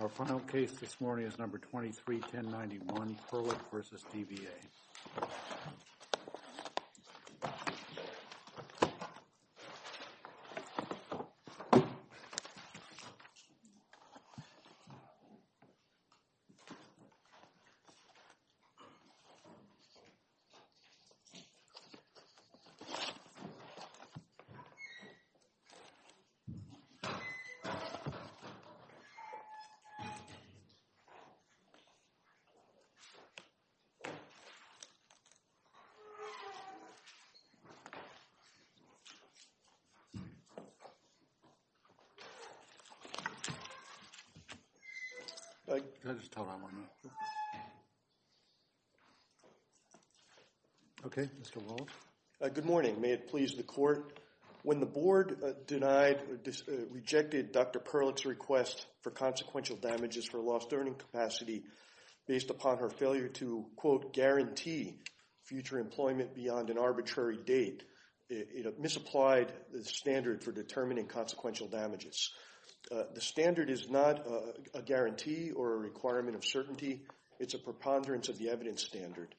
Our final case this morning is No. 23-1091, Perlick v. DVA. Good morning, may it please the court. When the board denied or rejected Dr. Perlick's request for consequential damages for lost earning capacity based upon her failure to, quote, guarantee future employment beyond an arbitrary date, it misapplied the standard for determining consequential damages. The standard is not a guarantee or a requirement of certainty. It's a preponderance of the evidence standard,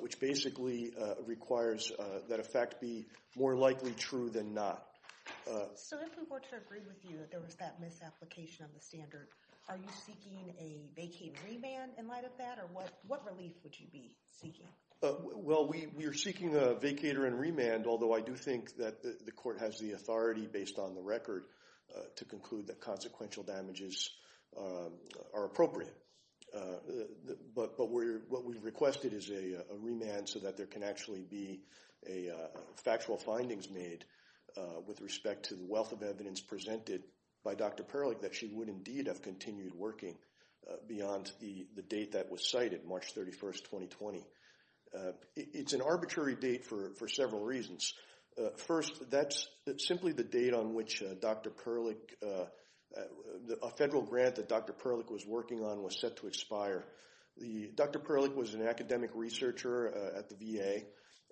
which basically requires that a fact be more likely true than not. So if we were to agree with you that there was that misapplication of the standard, are you seeking a vacated remand in light of that, or what relief would you be seeking? Well, we are seeking a vacater and remand, although I do think that the court has the authority based on the record to conclude that consequential damages are appropriate. But what we've requested is a remand so that there can actually be factual findings made with respect to the wealth of evidence presented by Dr. Perlick that she would indeed have continued working beyond the date that was cited, March 31, 2020. It's an arbitrary date for several reasons. First, that's simply the date on which Dr. Perlick – a federal grant that Dr. Perlick was working on was set to expire. Dr. Perlick was an academic researcher at the VA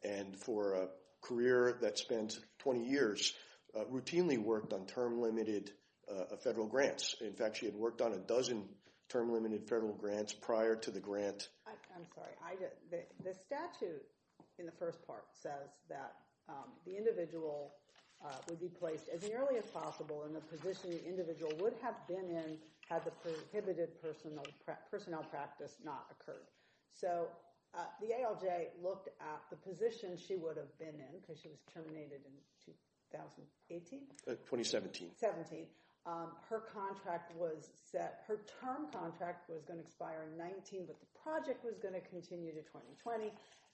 and for a career that spent 20 years routinely worked on term-limited federal grants. In fact, she had worked on a dozen term-limited federal grants prior to the grant. I'm sorry. The statute in the first part says that the individual would be placed as early as possible in the position the individual would have been in had the prohibited personnel practice not occurred. So the ALJ looked at the position she would have been in because she was terminated in 2018? 2017. Her contract was set – her term contract was going to expire in 2019, but the project was going to continue to 2020.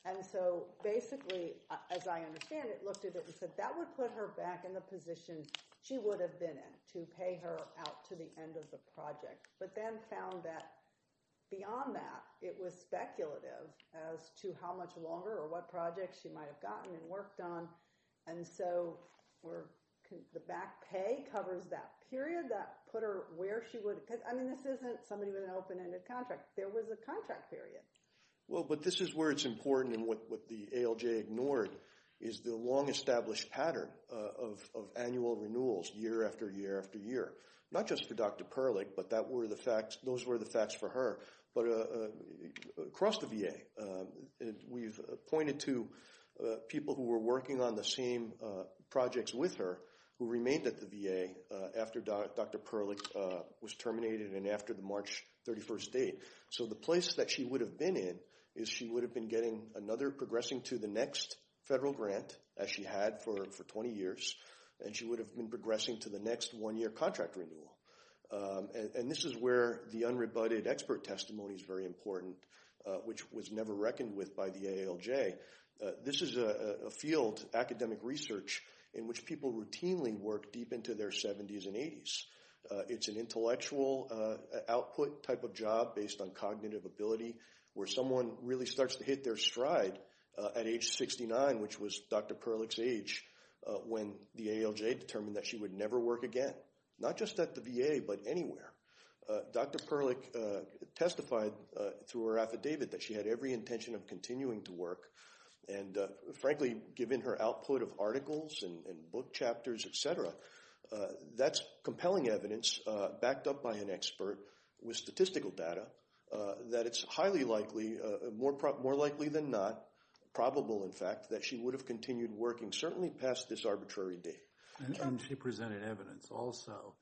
And so basically, as I understand it, looked at it and said that would put her back in the position she would have been in to pay her out to the end of the project. But then found that beyond that, it was speculative as to how much longer or what projects she might have gotten and worked on. And so the back pay covers that period that put her where she would – because, I mean, this isn't somebody with an open-ended contract. There was a contract period. Well, but this is where it's important and what the ALJ ignored is the long-established pattern of annual renewals year after year after year. Not just for Dr. Perlich, but that were the facts – those were the facts for her. But across the VA, we've pointed to people who were working on the same projects with her who remained at the VA after Dr. Perlich was terminated and after the March 31st date. So the place that she would have been in is she would have been getting another – progressing to the next federal grant, as she had for 20 years. And she would have been progressing to the next one-year contract renewal. And this is where the unrebutted expert testimony is very important, which was never reckoned with by the ALJ. This is a field, academic research, in which people routinely work deep into their 70s and 80s. It's an intellectual output type of job based on cognitive ability, where someone really starts to hit their stride at age 69, which was Dr. Perlich's age, when the ALJ determined that she would never work again. Not just at the VA, but anywhere. Dr. Perlich testified through her affidavit that she had every intention of continuing to work. And frankly, given her output of articles and book chapters, etc., that's compelling evidence, backed up by an expert with statistical data, that it's highly likely – more likely than not – probable, in fact, that she would have continued working, certainly past this arbitrary date. And she presented evidence also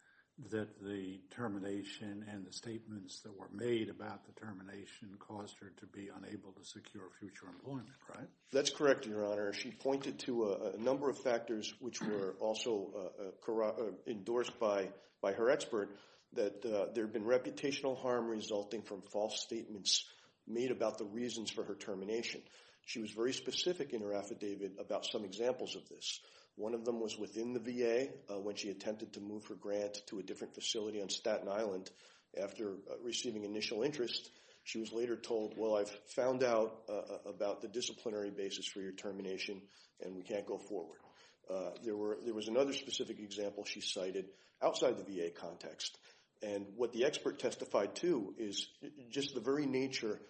that the termination and the statements that were made about the termination caused her to be unable to secure future employment, right? That's correct, Your Honor. She pointed to a number of factors, which were also endorsed by her expert, that there had been reputational harm resulting from false statements made about the reasons for her termination. She was very specific in her affidavit about some examples of this. One of them was within the VA, when she attempted to move her grant to a different facility on Staten Island after receiving initial interest. She was later told, well, I've found out about the disciplinary basis for your termination, and we can't go forward. There was another specific example she cited outside the VA context. And what the expert testified to is just the very nature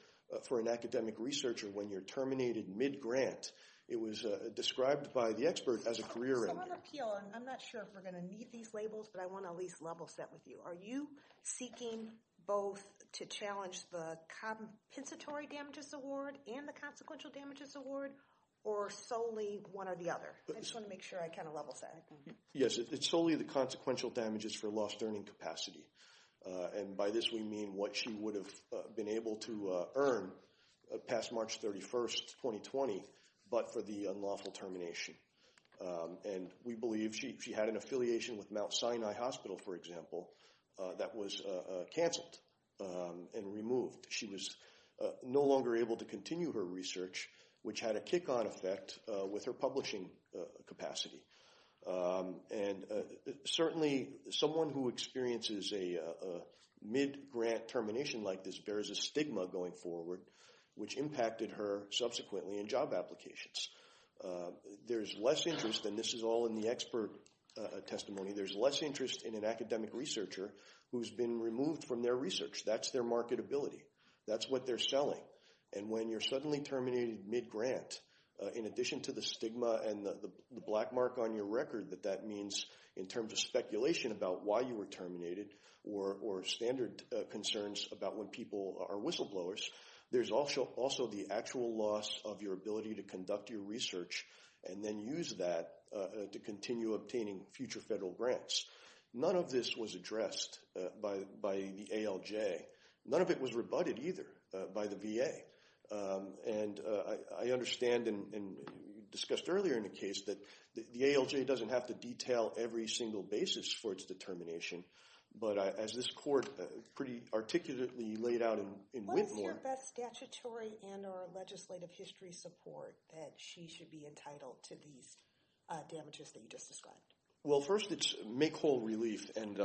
for an academic researcher when you're terminated mid-grant. It was described by the expert as a career ending. I'm not sure if we're going to need these labels, but I want to at least level set with you. Are you seeking both to challenge the compensatory damages award and the consequential damages award, or solely one or the other? I just want to make sure I kind of level set. Yes, it's solely the consequential damages for lost earning capacity. And by this we mean what she would have been able to earn past March 31st, 2020, but for the unlawful termination. And we believe she had an affiliation with Mount Sinai Hospital, for example, that was canceled and removed. She was no longer able to continue her research, which had a kick-on effect with her publishing capacity. And certainly someone who experiences a mid-grant termination like this bears a stigma going forward, which impacted her subsequently in job applications. There's less interest, and this is all in the expert testimony, there's less interest in an academic researcher who's been removed from their research. That's their marketability. That's what they're selling. And when you're suddenly terminated mid-grant, in addition to the stigma and the black mark on your record that that means in terms of speculation about why you were terminated, or standard concerns about when people are whistleblowers, there's also the actual loss of your ability to conduct your research and then use that to continue obtaining future federal grants. None of this was addressed by the ALJ. None of it was rebutted either by the VA. And I understand, and you discussed earlier in the case, that the ALJ doesn't have to detail every single basis for its determination. But as this court pretty articulately laid out in Whitmore— What is your best statutory and or legislative history support that she should be entitled to these damages that you just described? Well, first it's make whole relief, and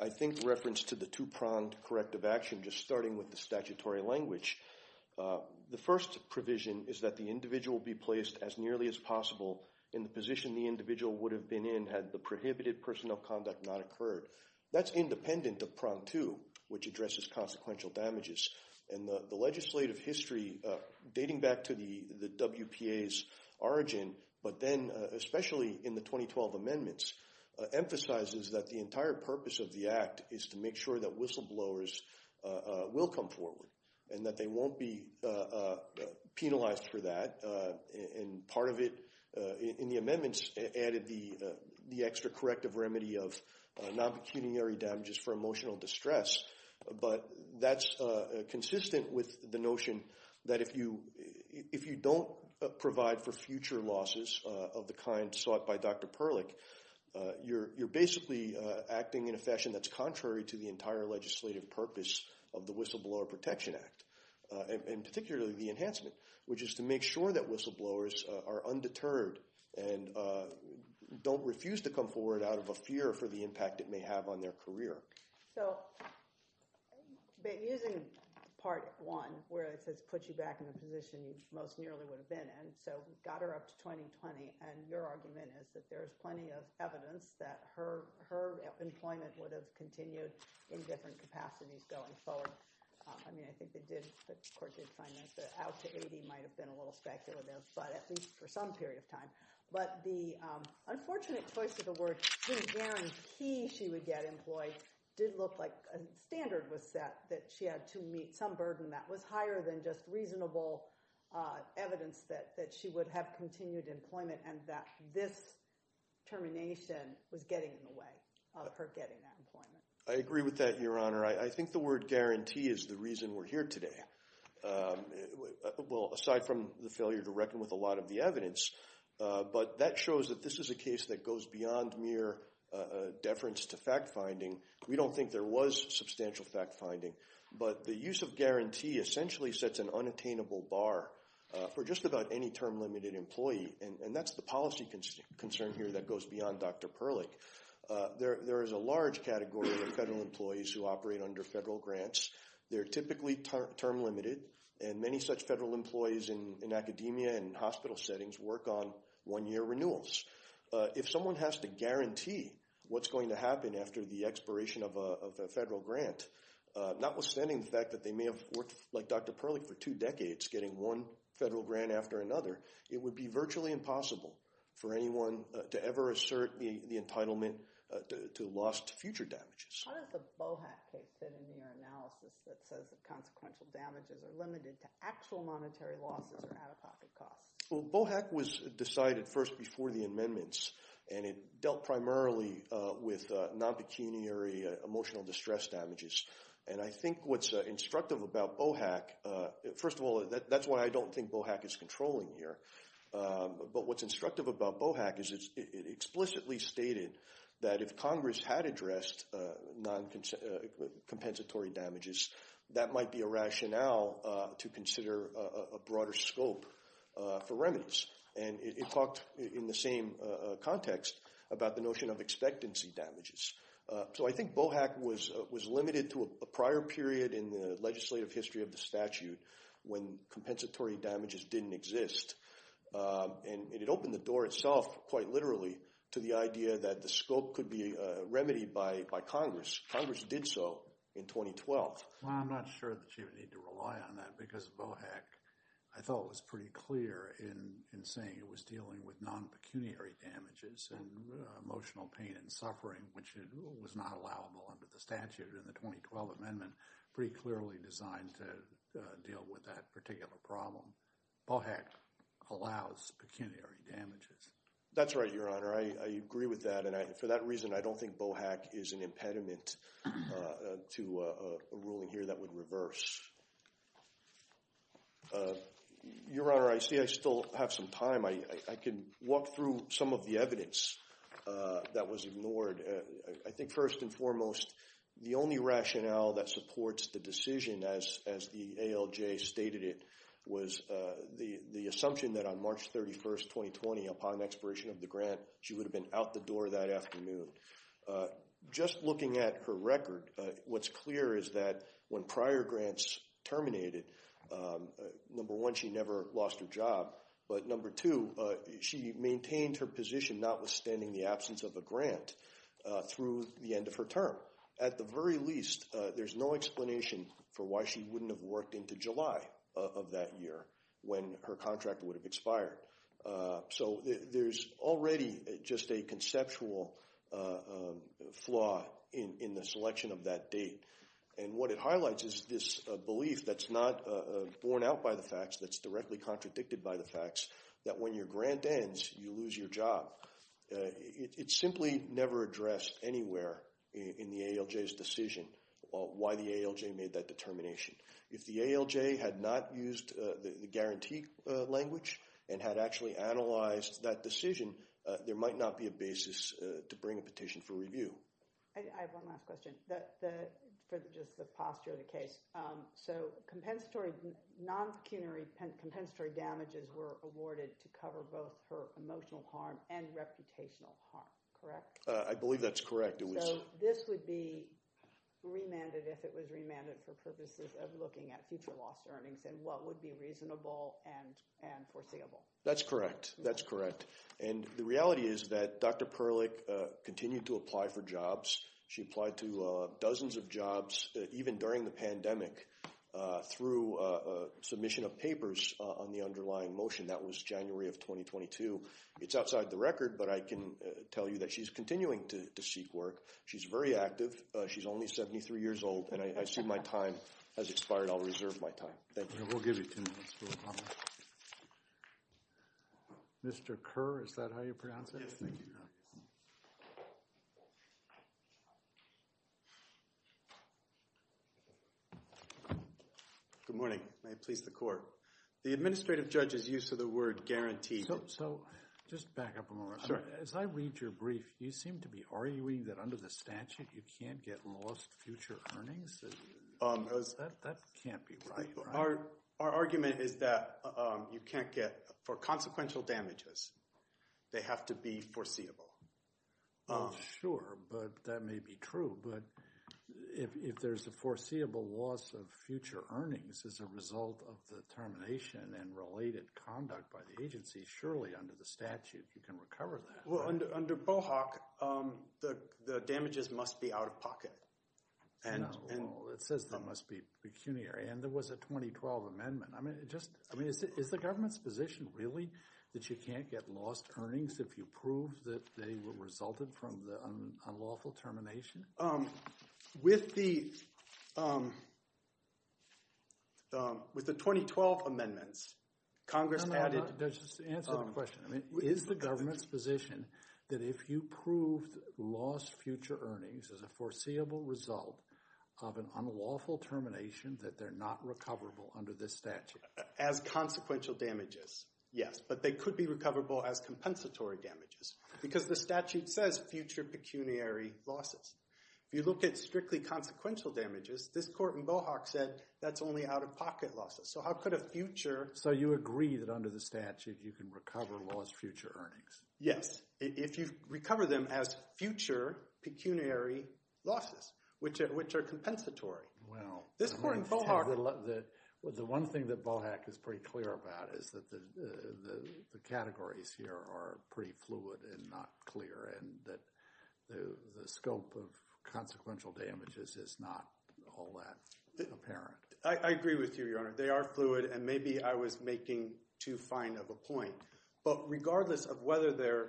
I think reference to the two-pronged corrective action, just starting with the statutory language. The first provision is that the individual be placed as nearly as possible in the position the individual would have been in had the prohibited personnel conduct not occurred. That's independent of prong two, which addresses consequential damages. And the legislative history, dating back to the WPA's origin, but then especially in the 2012 amendments, emphasizes that the entire purpose of the act is to make sure that whistleblowers will come forward and that they won't be penalized for that. And part of it in the amendments added the extra corrective remedy of non-pecuniary damages for emotional distress. But that's consistent with the notion that if you don't provide for future losses of the kind sought by Dr. Perlich, you're basically acting in a fashion that's contrary to the entire legislative purpose of the Whistleblower Protection Act. And particularly the enhancement, which is to make sure that whistleblowers are undeterred and don't refuse to come forward out of a fear for the impact it may have on their career. So, using part one, where it says put you back in a position you most nearly would have been in, so we got her up to 2020. And your argument is that there is plenty of evidence that her employment would have continued in different capacities going forward. I mean, I think the court did find that out to 80 might have been a little speculative, but at least for some period of time. But the unfortunate choice of the word guarantee she would get employed did look like a standard was set that she had to meet some burden that was higher than just reasonable evidence that she would have continued employment and that this termination was getting in the way of her getting that employment. I agree with that, Your Honor. I think the word guarantee is the reason we're here today. Well, aside from the failure to reckon with a lot of the evidence, but that shows that this is a case that goes beyond mere deference to fact-finding. We don't think there was substantial fact-finding, but the use of guarantee essentially sets an unattainable bar for just about any term-limited employee. And that's the policy concern here that goes beyond Dr. Perlich. There is a large category of federal employees who operate under federal grants. They're typically term-limited, and many such federal employees in academia and hospital settings work on one-year renewals. If someone has to guarantee what's going to happen after the expiration of a federal grant, notwithstanding the fact that they may have worked like Dr. Perlich for two decades getting one federal grant after another, it would be virtually impossible for anyone to ever assert the entitlement to lost future damages. How does the Bohack case fit into your analysis that says that consequential damages are limited to actual monetary losses or out-of-pocket costs? Well, Bohack was decided first before the amendments, and it dealt primarily with non-pecuniary emotional distress damages. And I think what's instructive about Bohack – first of all, that's what I don't think Bohack is controlling here. But what's instructive about Bohack is it explicitly stated that if Congress had addressed non-compensatory damages, that might be a rationale to consider a broader scope for remedies. And it talked in the same context about the notion of expectancy damages. So I think Bohack was limited to a prior period in the legislative history of the statute when compensatory damages didn't exist. And it opened the door itself quite literally to the idea that the scope could be remedied by Congress. Congress did so in 2012. Well, I'm not sure that you would need to rely on that because Bohack, I thought, was pretty clear in saying it was dealing with non-pecuniary damages and emotional pain and suffering, which was not allowable under the statute in the 2012 amendment, pretty clearly designed to deal with that particular problem. Bohack allows pecuniary damages. That's right, Your Honor. I agree with that. And for that reason, I don't think Bohack is an impediment to a ruling here that would reverse. Your Honor, I see I still have some time. I can walk through some of the evidence that was ignored. I think first and foremost, the only rationale that supports the decision, as the ALJ stated it, was the assumption that on March 31st, 2020, upon expiration of the grant, she would have been out the door that afternoon. Just looking at her record, what's clear is that when prior grants terminated, number one, she never lost her job. But number two, she maintained her position notwithstanding the absence of a grant through the end of her term. At the very least, there's no explanation for why she wouldn't have worked into July of that year when her contract would have expired. So there's already just a conceptual flaw in the selection of that date. And what it highlights is this belief that's not borne out by the facts, that's directly contradicted by the facts, that when your grant ends, you lose your job. It simply never addressed anywhere in the ALJ's decision why the ALJ made that determination. If the ALJ had not used the guarantee language and had actually analyzed that decision, there might not be a basis to bring a petition for review. I have one last question for just the posture of the case. So non-pecuniary compensatory damages were awarded to cover both her emotional harm and reputational harm, correct? I believe that's correct. So this would be remanded if it was remanded for purposes of looking at future loss earnings and what would be reasonable and foreseeable? That's correct. That's correct. And the reality is that Dr. Perlich continued to apply for jobs. She applied to dozens of jobs, even during the pandemic, through submission of papers on the underlying motion. That was January of 2022. It's outside the record, but I can tell you that she's continuing to seek work. She's very active. She's only 73 years old. And I assume my time has expired. I'll reserve my time. Thank you. We'll give you two minutes for a comment. Mr. Kerr, is that how you pronounce it? Yes, thank you. Good morning. May it please the court. The administrative judge's use of the word guarantee— So just back up a moment. As I read your brief, you seem to be arguing that under the statute you can't get lost future earnings? That can't be right, right? Our argument is that you can't get—for consequential damages, they have to be foreseeable. Sure, but that may be true. But if there's a foreseeable loss of future earnings as a result of the termination and related conduct by the agency, surely under the statute you can recover that. Well, under BOHOC, the damages must be out of pocket. It says that must be pecuniary. And there was a 2012 amendment. I mean, is the government's position really that you can't get lost earnings if you prove that they resulted from the unlawful termination? With the 2012 amendments, Congress added— No, no, no. Just answer the question. Is the government's position that if you prove lost future earnings as a foreseeable result of an unlawful termination, that they're not recoverable under this statute? As consequential damages, yes. But they could be recoverable as compensatory damages because the statute says future pecuniary losses. If you look at strictly consequential damages, this court in BOHOC said that's only out-of-pocket losses. So how could a future— So you agree that under the statute you can recover lost future earnings? Yes, if you recover them as future pecuniary losses, which are compensatory. This court in BOHOC— The one thing that BOHOC is pretty clear about is that the categories here are pretty fluid and not clear, and that the scope of consequential damages is not all that apparent. I agree with you, Your Honor. They are fluid, and maybe I was making too fine of a point. But regardless of whether they're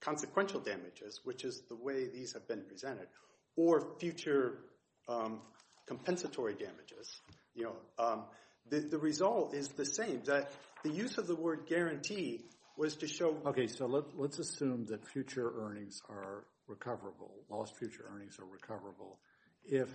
consequential damages, which is the way these have been presented, or future compensatory damages, the result is the same. The use of the word guarantee was to show— Okay, so let's assume that future earnings are recoverable, lost future earnings are recoverable, if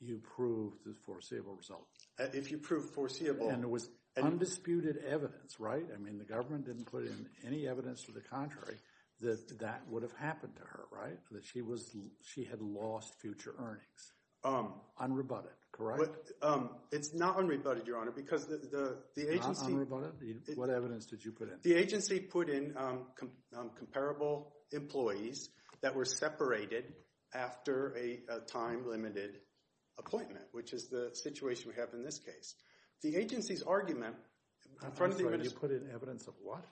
you prove the foreseeable result. If you prove foreseeable— And it was undisputed evidence, right? I mean, the government didn't put in any evidence to the contrary that that would have happened to her, right? That she had lost future earnings, unrebutted, correct? It's not unrebutted, Your Honor, because the agency— Not unrebutted? What evidence did you put in? The agency put in comparable employees that were separated after a time-limited appointment, which is the situation we have in this case. The agency's argument— I'm sorry, you put in evidence of what?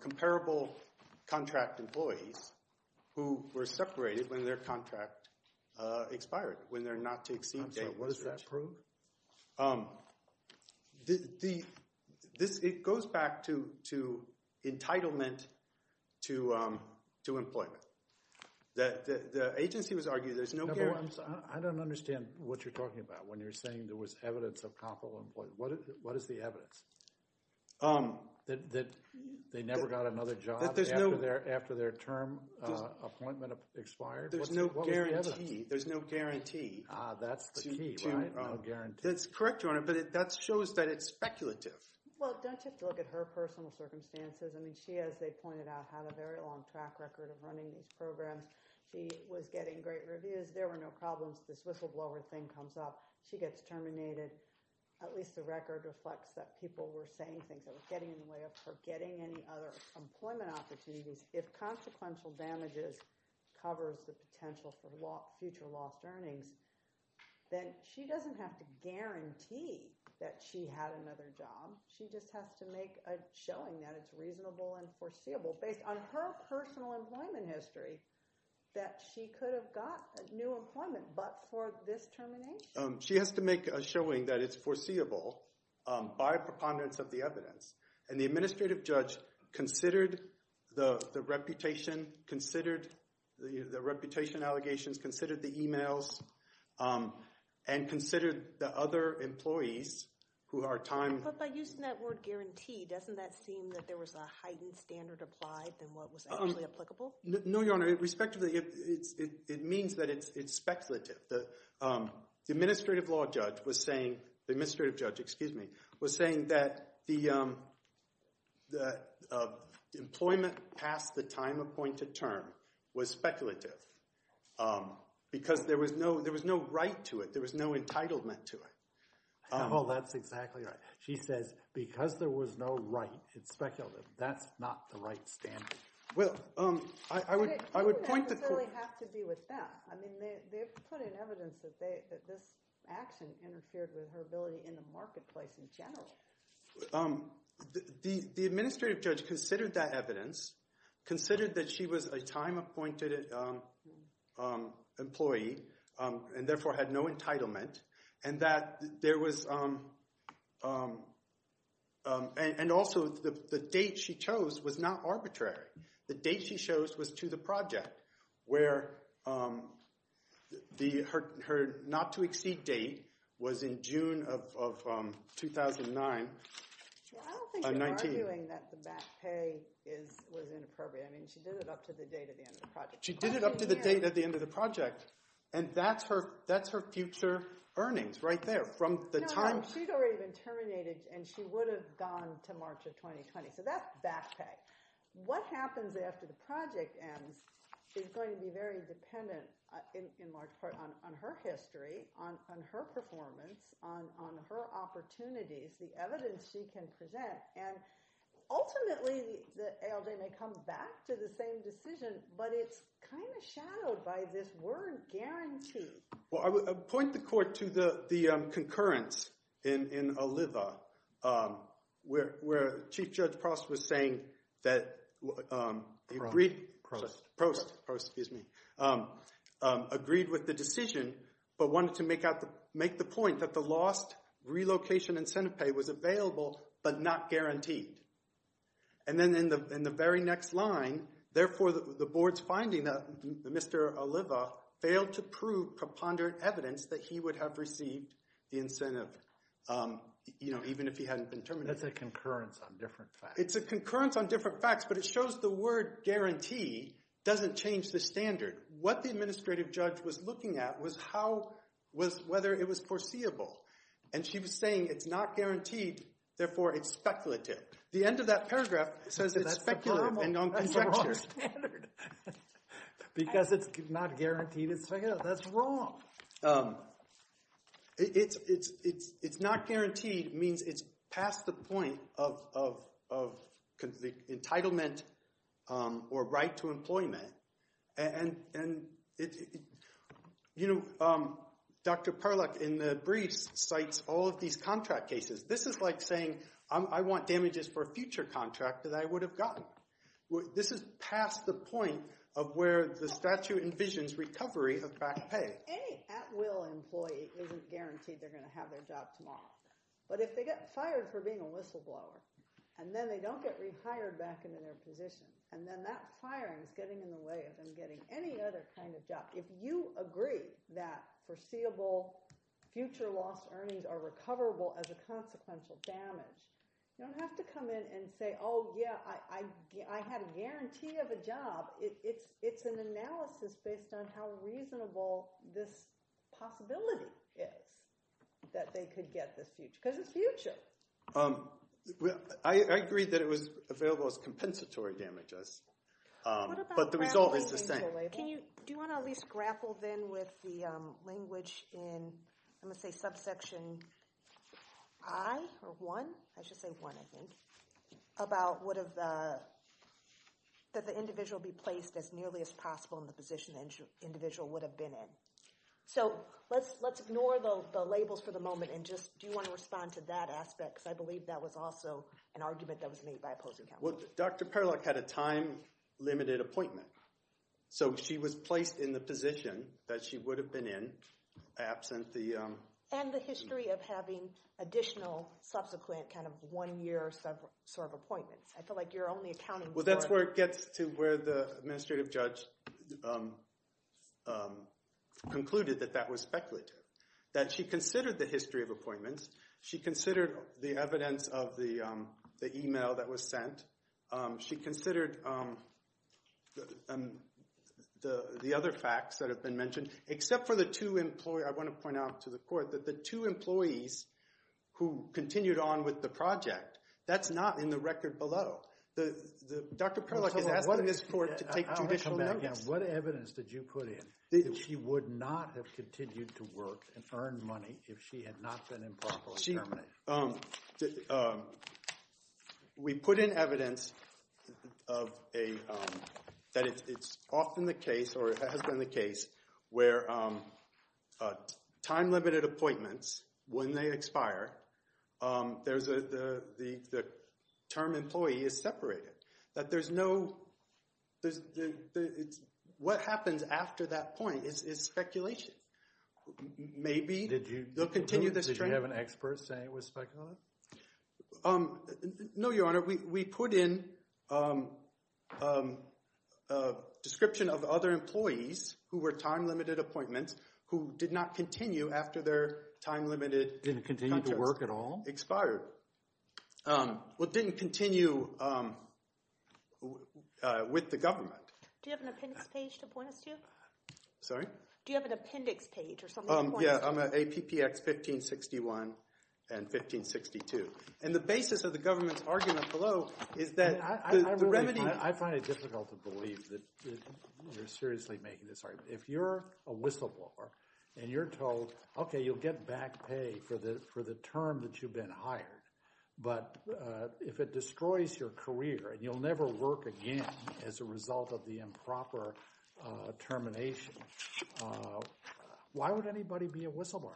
Comparable contract employees who were separated when their contract expired, when they're not to exceed— Okay, what does that prove? It goes back to entitlement to employment. The agency was arguing there's no— I don't understand what you're talking about when you're saying there was evidence of comparable employees. What is the evidence? That they never got another job after their term appointment expired? There's no guarantee. There's no guarantee. Ah, that's the key, right? No guarantee. That's correct, Your Honor, but that shows that it's speculative. Well, don't you have to look at her personal circumstances? I mean, she, as they pointed out, had a very long track record of running these programs. She was getting great reviews. There were no problems. This whistleblower thing comes up. She gets terminated. At least the record reflects that people were saying things that were getting in the way of her getting any other employment opportunities. If consequential damages covers the potential for future lost earnings, then she doesn't have to guarantee that she had another job. She just has to make a showing that it's reasonable and foreseeable based on her personal employment history that she could have got new employment but for this termination? She has to make a showing that it's foreseeable by preponderance of the evidence. And the administrative judge considered the reputation, considered the reputation allegations, considered the e-mails, and considered the other employees who are time— But by using that word guarantee, doesn't that seem that there was a heightened standard applied than what was actually applicable? No, Your Honor. Respectively, it means that it's speculative. The administrative law judge was saying—the administrative judge, excuse me, was saying that the employment past the time appointed term was speculative because there was no right to it. There was no entitlement to it. Oh, that's exactly right. She says because there was no right, it's speculative. That's not the right standard. Well, I would point to— It didn't necessarily have to be with that. I mean they put in evidence that this action interfered with her ability in the marketplace in general. The administrative judge considered that evidence, considered that she was a time-appointed employee and therefore had no entitlement and that there was—and also the date she chose was not arbitrary. The date she chose was to the project where her not-to-exceed date was in June of 2009. I don't think you're arguing that the back pay was inappropriate. I mean she did it up to the date at the end of the project. She did it up to the date at the end of the project, and that's her future earnings right there from the time— No, she'd already been terminated, and she would have gone to March of 2020, so that's back pay. What happens after the project ends is going to be very dependent in large part on her history, on her performance, on her opportunities, the evidence she can present. Ultimately, the ALJ may come back to the same decision, but it's kind of shadowed by this word guarantee. Well, I would point the court to the concurrence in Oliva where Chief Judge Prost was saying that— Prost. Prost, excuse me—agreed with the decision but wanted to make the point that the lost relocation incentive pay was available but not guaranteed. And then in the very next line, therefore the board's finding that Mr. Oliva failed to prove preponderant evidence that he would have received the incentive even if he hadn't been terminated. That's a concurrence on different facts. It's a concurrence on different facts, but it shows the word guarantee doesn't change the standard. What the administrative judge was looking at was whether it was foreseeable, and she was saying it's not guaranteed, therefore it's speculative. The end of that paragraph says it's speculative and non-conjecture. Because it's not guaranteed, it's speculative. That's wrong. It's not guaranteed means it's past the point of entitlement or right to employment. And, you know, Dr. Perluck in the briefs cites all of these contract cases. This is like saying I want damages for a future contract that I would have gotten. This is past the point of where the statute envisions recovery of back pay. Any at-will employee isn't guaranteed they're going to have their job tomorrow. But if they get fired for being a whistleblower and then they don't get rehired back into their position and then that firing is getting in the way of them getting any other kind of job, if you agree that foreseeable future lost earnings are recoverable as a consequential damage, you don't have to come in and say, oh, yeah, I had a guarantee of a job. It's an analysis based on how reasonable this possibility is that they could get this future, because it's future. I agree that it was available as compensatory damages, but the result is the same. Do you want to at least grapple then with the language in, I'm going to say, subsection I or I, I should say I, I think, about would the individual be placed as nearly as possible in the position the individual would have been in. So let's ignore the labels for the moment and just do you want to respond to that aspect, because I believe that was also an argument that was made by opposing counsel. Well, Dr. Parlock had a time limited appointment. So she was placed in the position that she would have been in absent the... And the history of having additional subsequent kind of one year sort of appointments. I feel like you're only accounting for... Concluded that that was speculative, that she considered the history of appointments. She considered the evidence of the email that was sent. She considered the other facts that have been mentioned, except for the two employees. I want to point out to the court that the two employees who continued on with the project, that's not in the record below. Dr. Parlock is asking this court to take judicial notice. What evidence did you put in that she would not have continued to work and earn money if she had not been improperly terminated? We put in evidence of a, that it's often the case or has been the case where time limited appointments, when they expire, the term employee is separated, that there's no... What happens after that point is speculation. Maybe they'll continue this trend. Did you have an expert saying it was speculative? No, Your Honor. We put in a description of other employees who were time limited appointments who did not continue after their time limited... Didn't continue to work at all? Expired. Well, didn't continue with the government. Do you have an appendix page to point us to? Sorry? Do you have an appendix page or something to point us to? Yeah, APPX 1561 and 1562. And the basis of the government's argument below is that the remedy... I find it difficult to believe that you're seriously making this argument. If you're a whistleblower and you're told, okay, you'll get back pay for the term that you've been hired. But if it destroys your career and you'll never work again as a result of the improper termination, why would anybody be a whistleblower?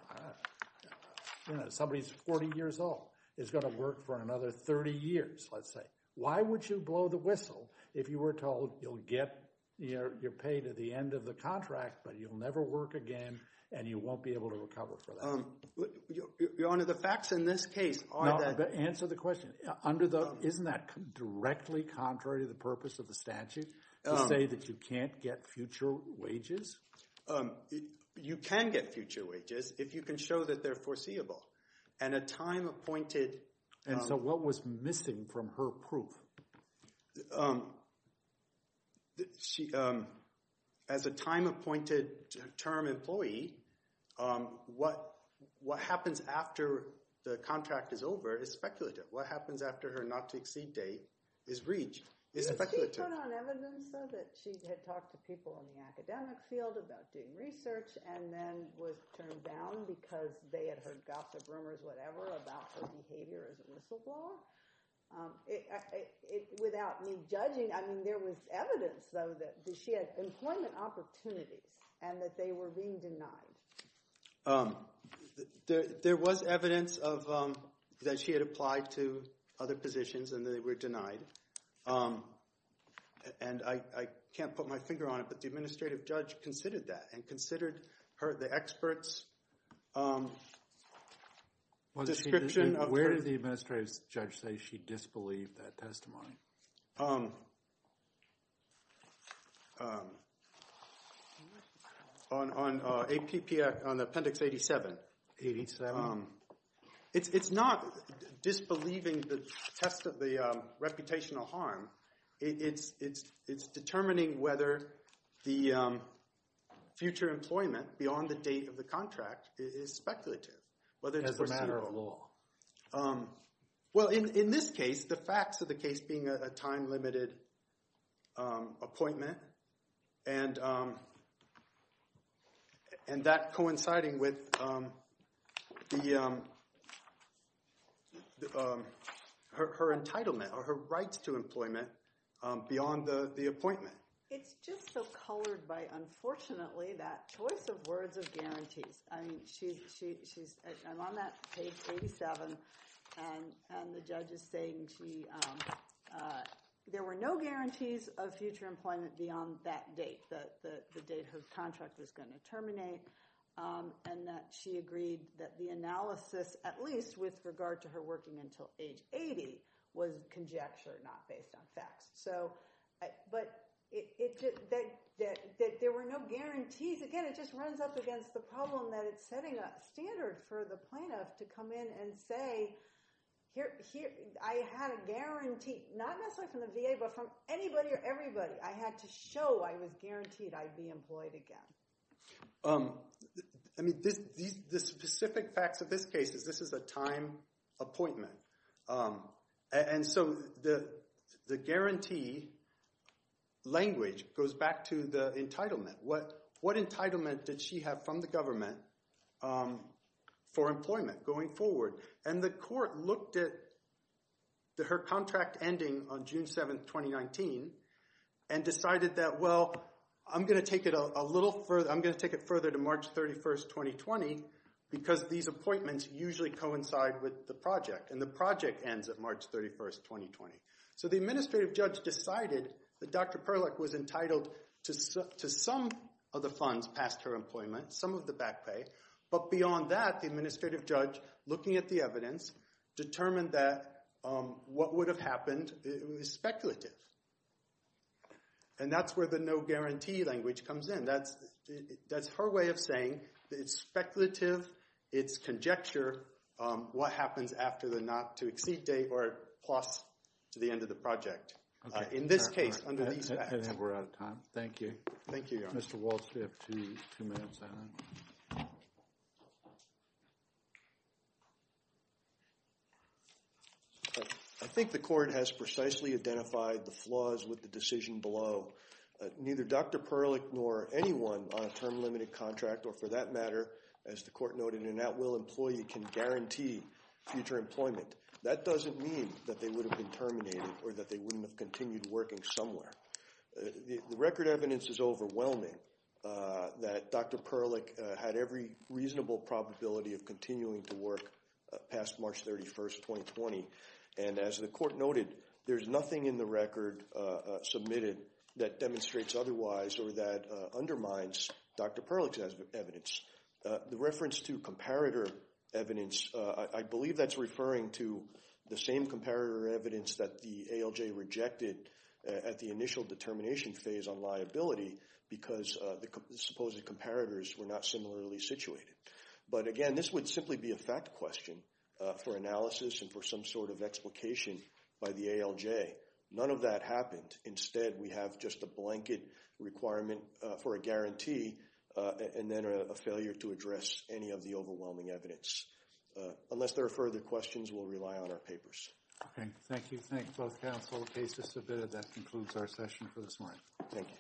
Somebody who's 40 years old is going to work for another 30 years, let's say. Why would you blow the whistle if you were told you'll get your pay to the end of the contract, but you'll never work again and you won't be able to recover for that? Your Honor, the facts in this case are that... Answer the question. Isn't that directly contrary to the purpose of the statute to say that you can't get future wages? You can get future wages if you can show that they're foreseeable. And a time appointed... And so what was missing from her proof? As a time appointed term employee, what happens after the contract is over is speculative. What happens after her not-to-exceed date is reached, is speculative. Did you put on evidence, though, that she had talked to people in the academic field about doing research and then was turned down because they had heard gossip, rumors, whatever, about her behavior as a whistleblower? Without me judging, I mean there was evidence, though, that she had employment opportunities and that they were being denied. There was evidence that she had applied to other positions and they were denied. And I can't put my finger on it, but the administrative judge considered that and considered the expert's description of her... Where did the administrative judge say she disbelieved that testimony? On Appendix 87. It's not disbelieving the test of the reputational harm. It's determining whether the future employment beyond the date of the contract is speculative, whether it's foreseeable. As a matter of law. Well, in this case, the facts of the case being a time-limited appointment and that coinciding with her entitlement or her rights to employment beyond the appointment. It's just so colored by, unfortunately, that choice of words of guarantees. I'm on that page 87 and the judge is saying there were no guarantees of future employment beyond that date, the date her contract was going to terminate. And that she agreed that the analysis, at least with regard to her working until age 80, was conjecture, not based on facts. But there were no guarantees. Again, it just runs up against the problem that it's setting a standard for the plaintiff to come in and say, I had a guarantee, not necessarily from the VA, but from anybody or everybody. I had to show I was guaranteed I'd be employed again. I mean, the specific facts of this case is this is a time appointment. And so the guarantee language goes back to the entitlement. What entitlement did she have from the government for employment going forward? And the court looked at her contract ending on June 7, 2019, and decided that, well, I'm going to take it a little further. I'm going to take it further to March 31, 2020, because these appointments usually coincide with the project. And the project ends at March 31, 2020. So the administrative judge decided that Dr. Perlick was entitled to some of the funds past her employment, some of the back pay. But beyond that, the administrative judge, looking at the evidence, determined that what would have happened is speculative. And that's where the no guarantee language comes in. That's her way of saying that it's speculative, it's conjecture, what happens after the not to exceed date or plus to the end of the project. In this case, under these facts. I think we're out of time. Thank you. Thank you, Your Honor. Mr. Walsh, we have two minutes. I think the court has precisely identified the flaws with the decision below. Neither Dr. Perlick nor anyone on a term limited contract, or for that matter, as the court noted, an at will employee can guarantee future employment. That doesn't mean that they would have been terminated or that they wouldn't have continued working somewhere. The record evidence is overwhelming that Dr. Perlick had every reasonable probability of continuing to work past March 31st, 2020. And as the court noted, there's nothing in the record submitted that demonstrates otherwise or that undermines Dr. Perlick's evidence. The reference to comparator evidence, I believe that's referring to the same comparator evidence that the ALJ rejected at the initial determination phase on liability. Because the supposed comparators were not similarly situated. But again, this would simply be a fact question for analysis and for some sort of explication by the ALJ. None of that happened. Instead, we have just a blanket requirement for a guarantee and then a failure to address any of the overwhelming evidence. Unless there are further questions, we'll rely on our papers. Okay, thank you. Thank both counsel. The case is submitted. That concludes our session for this morning. Thank you.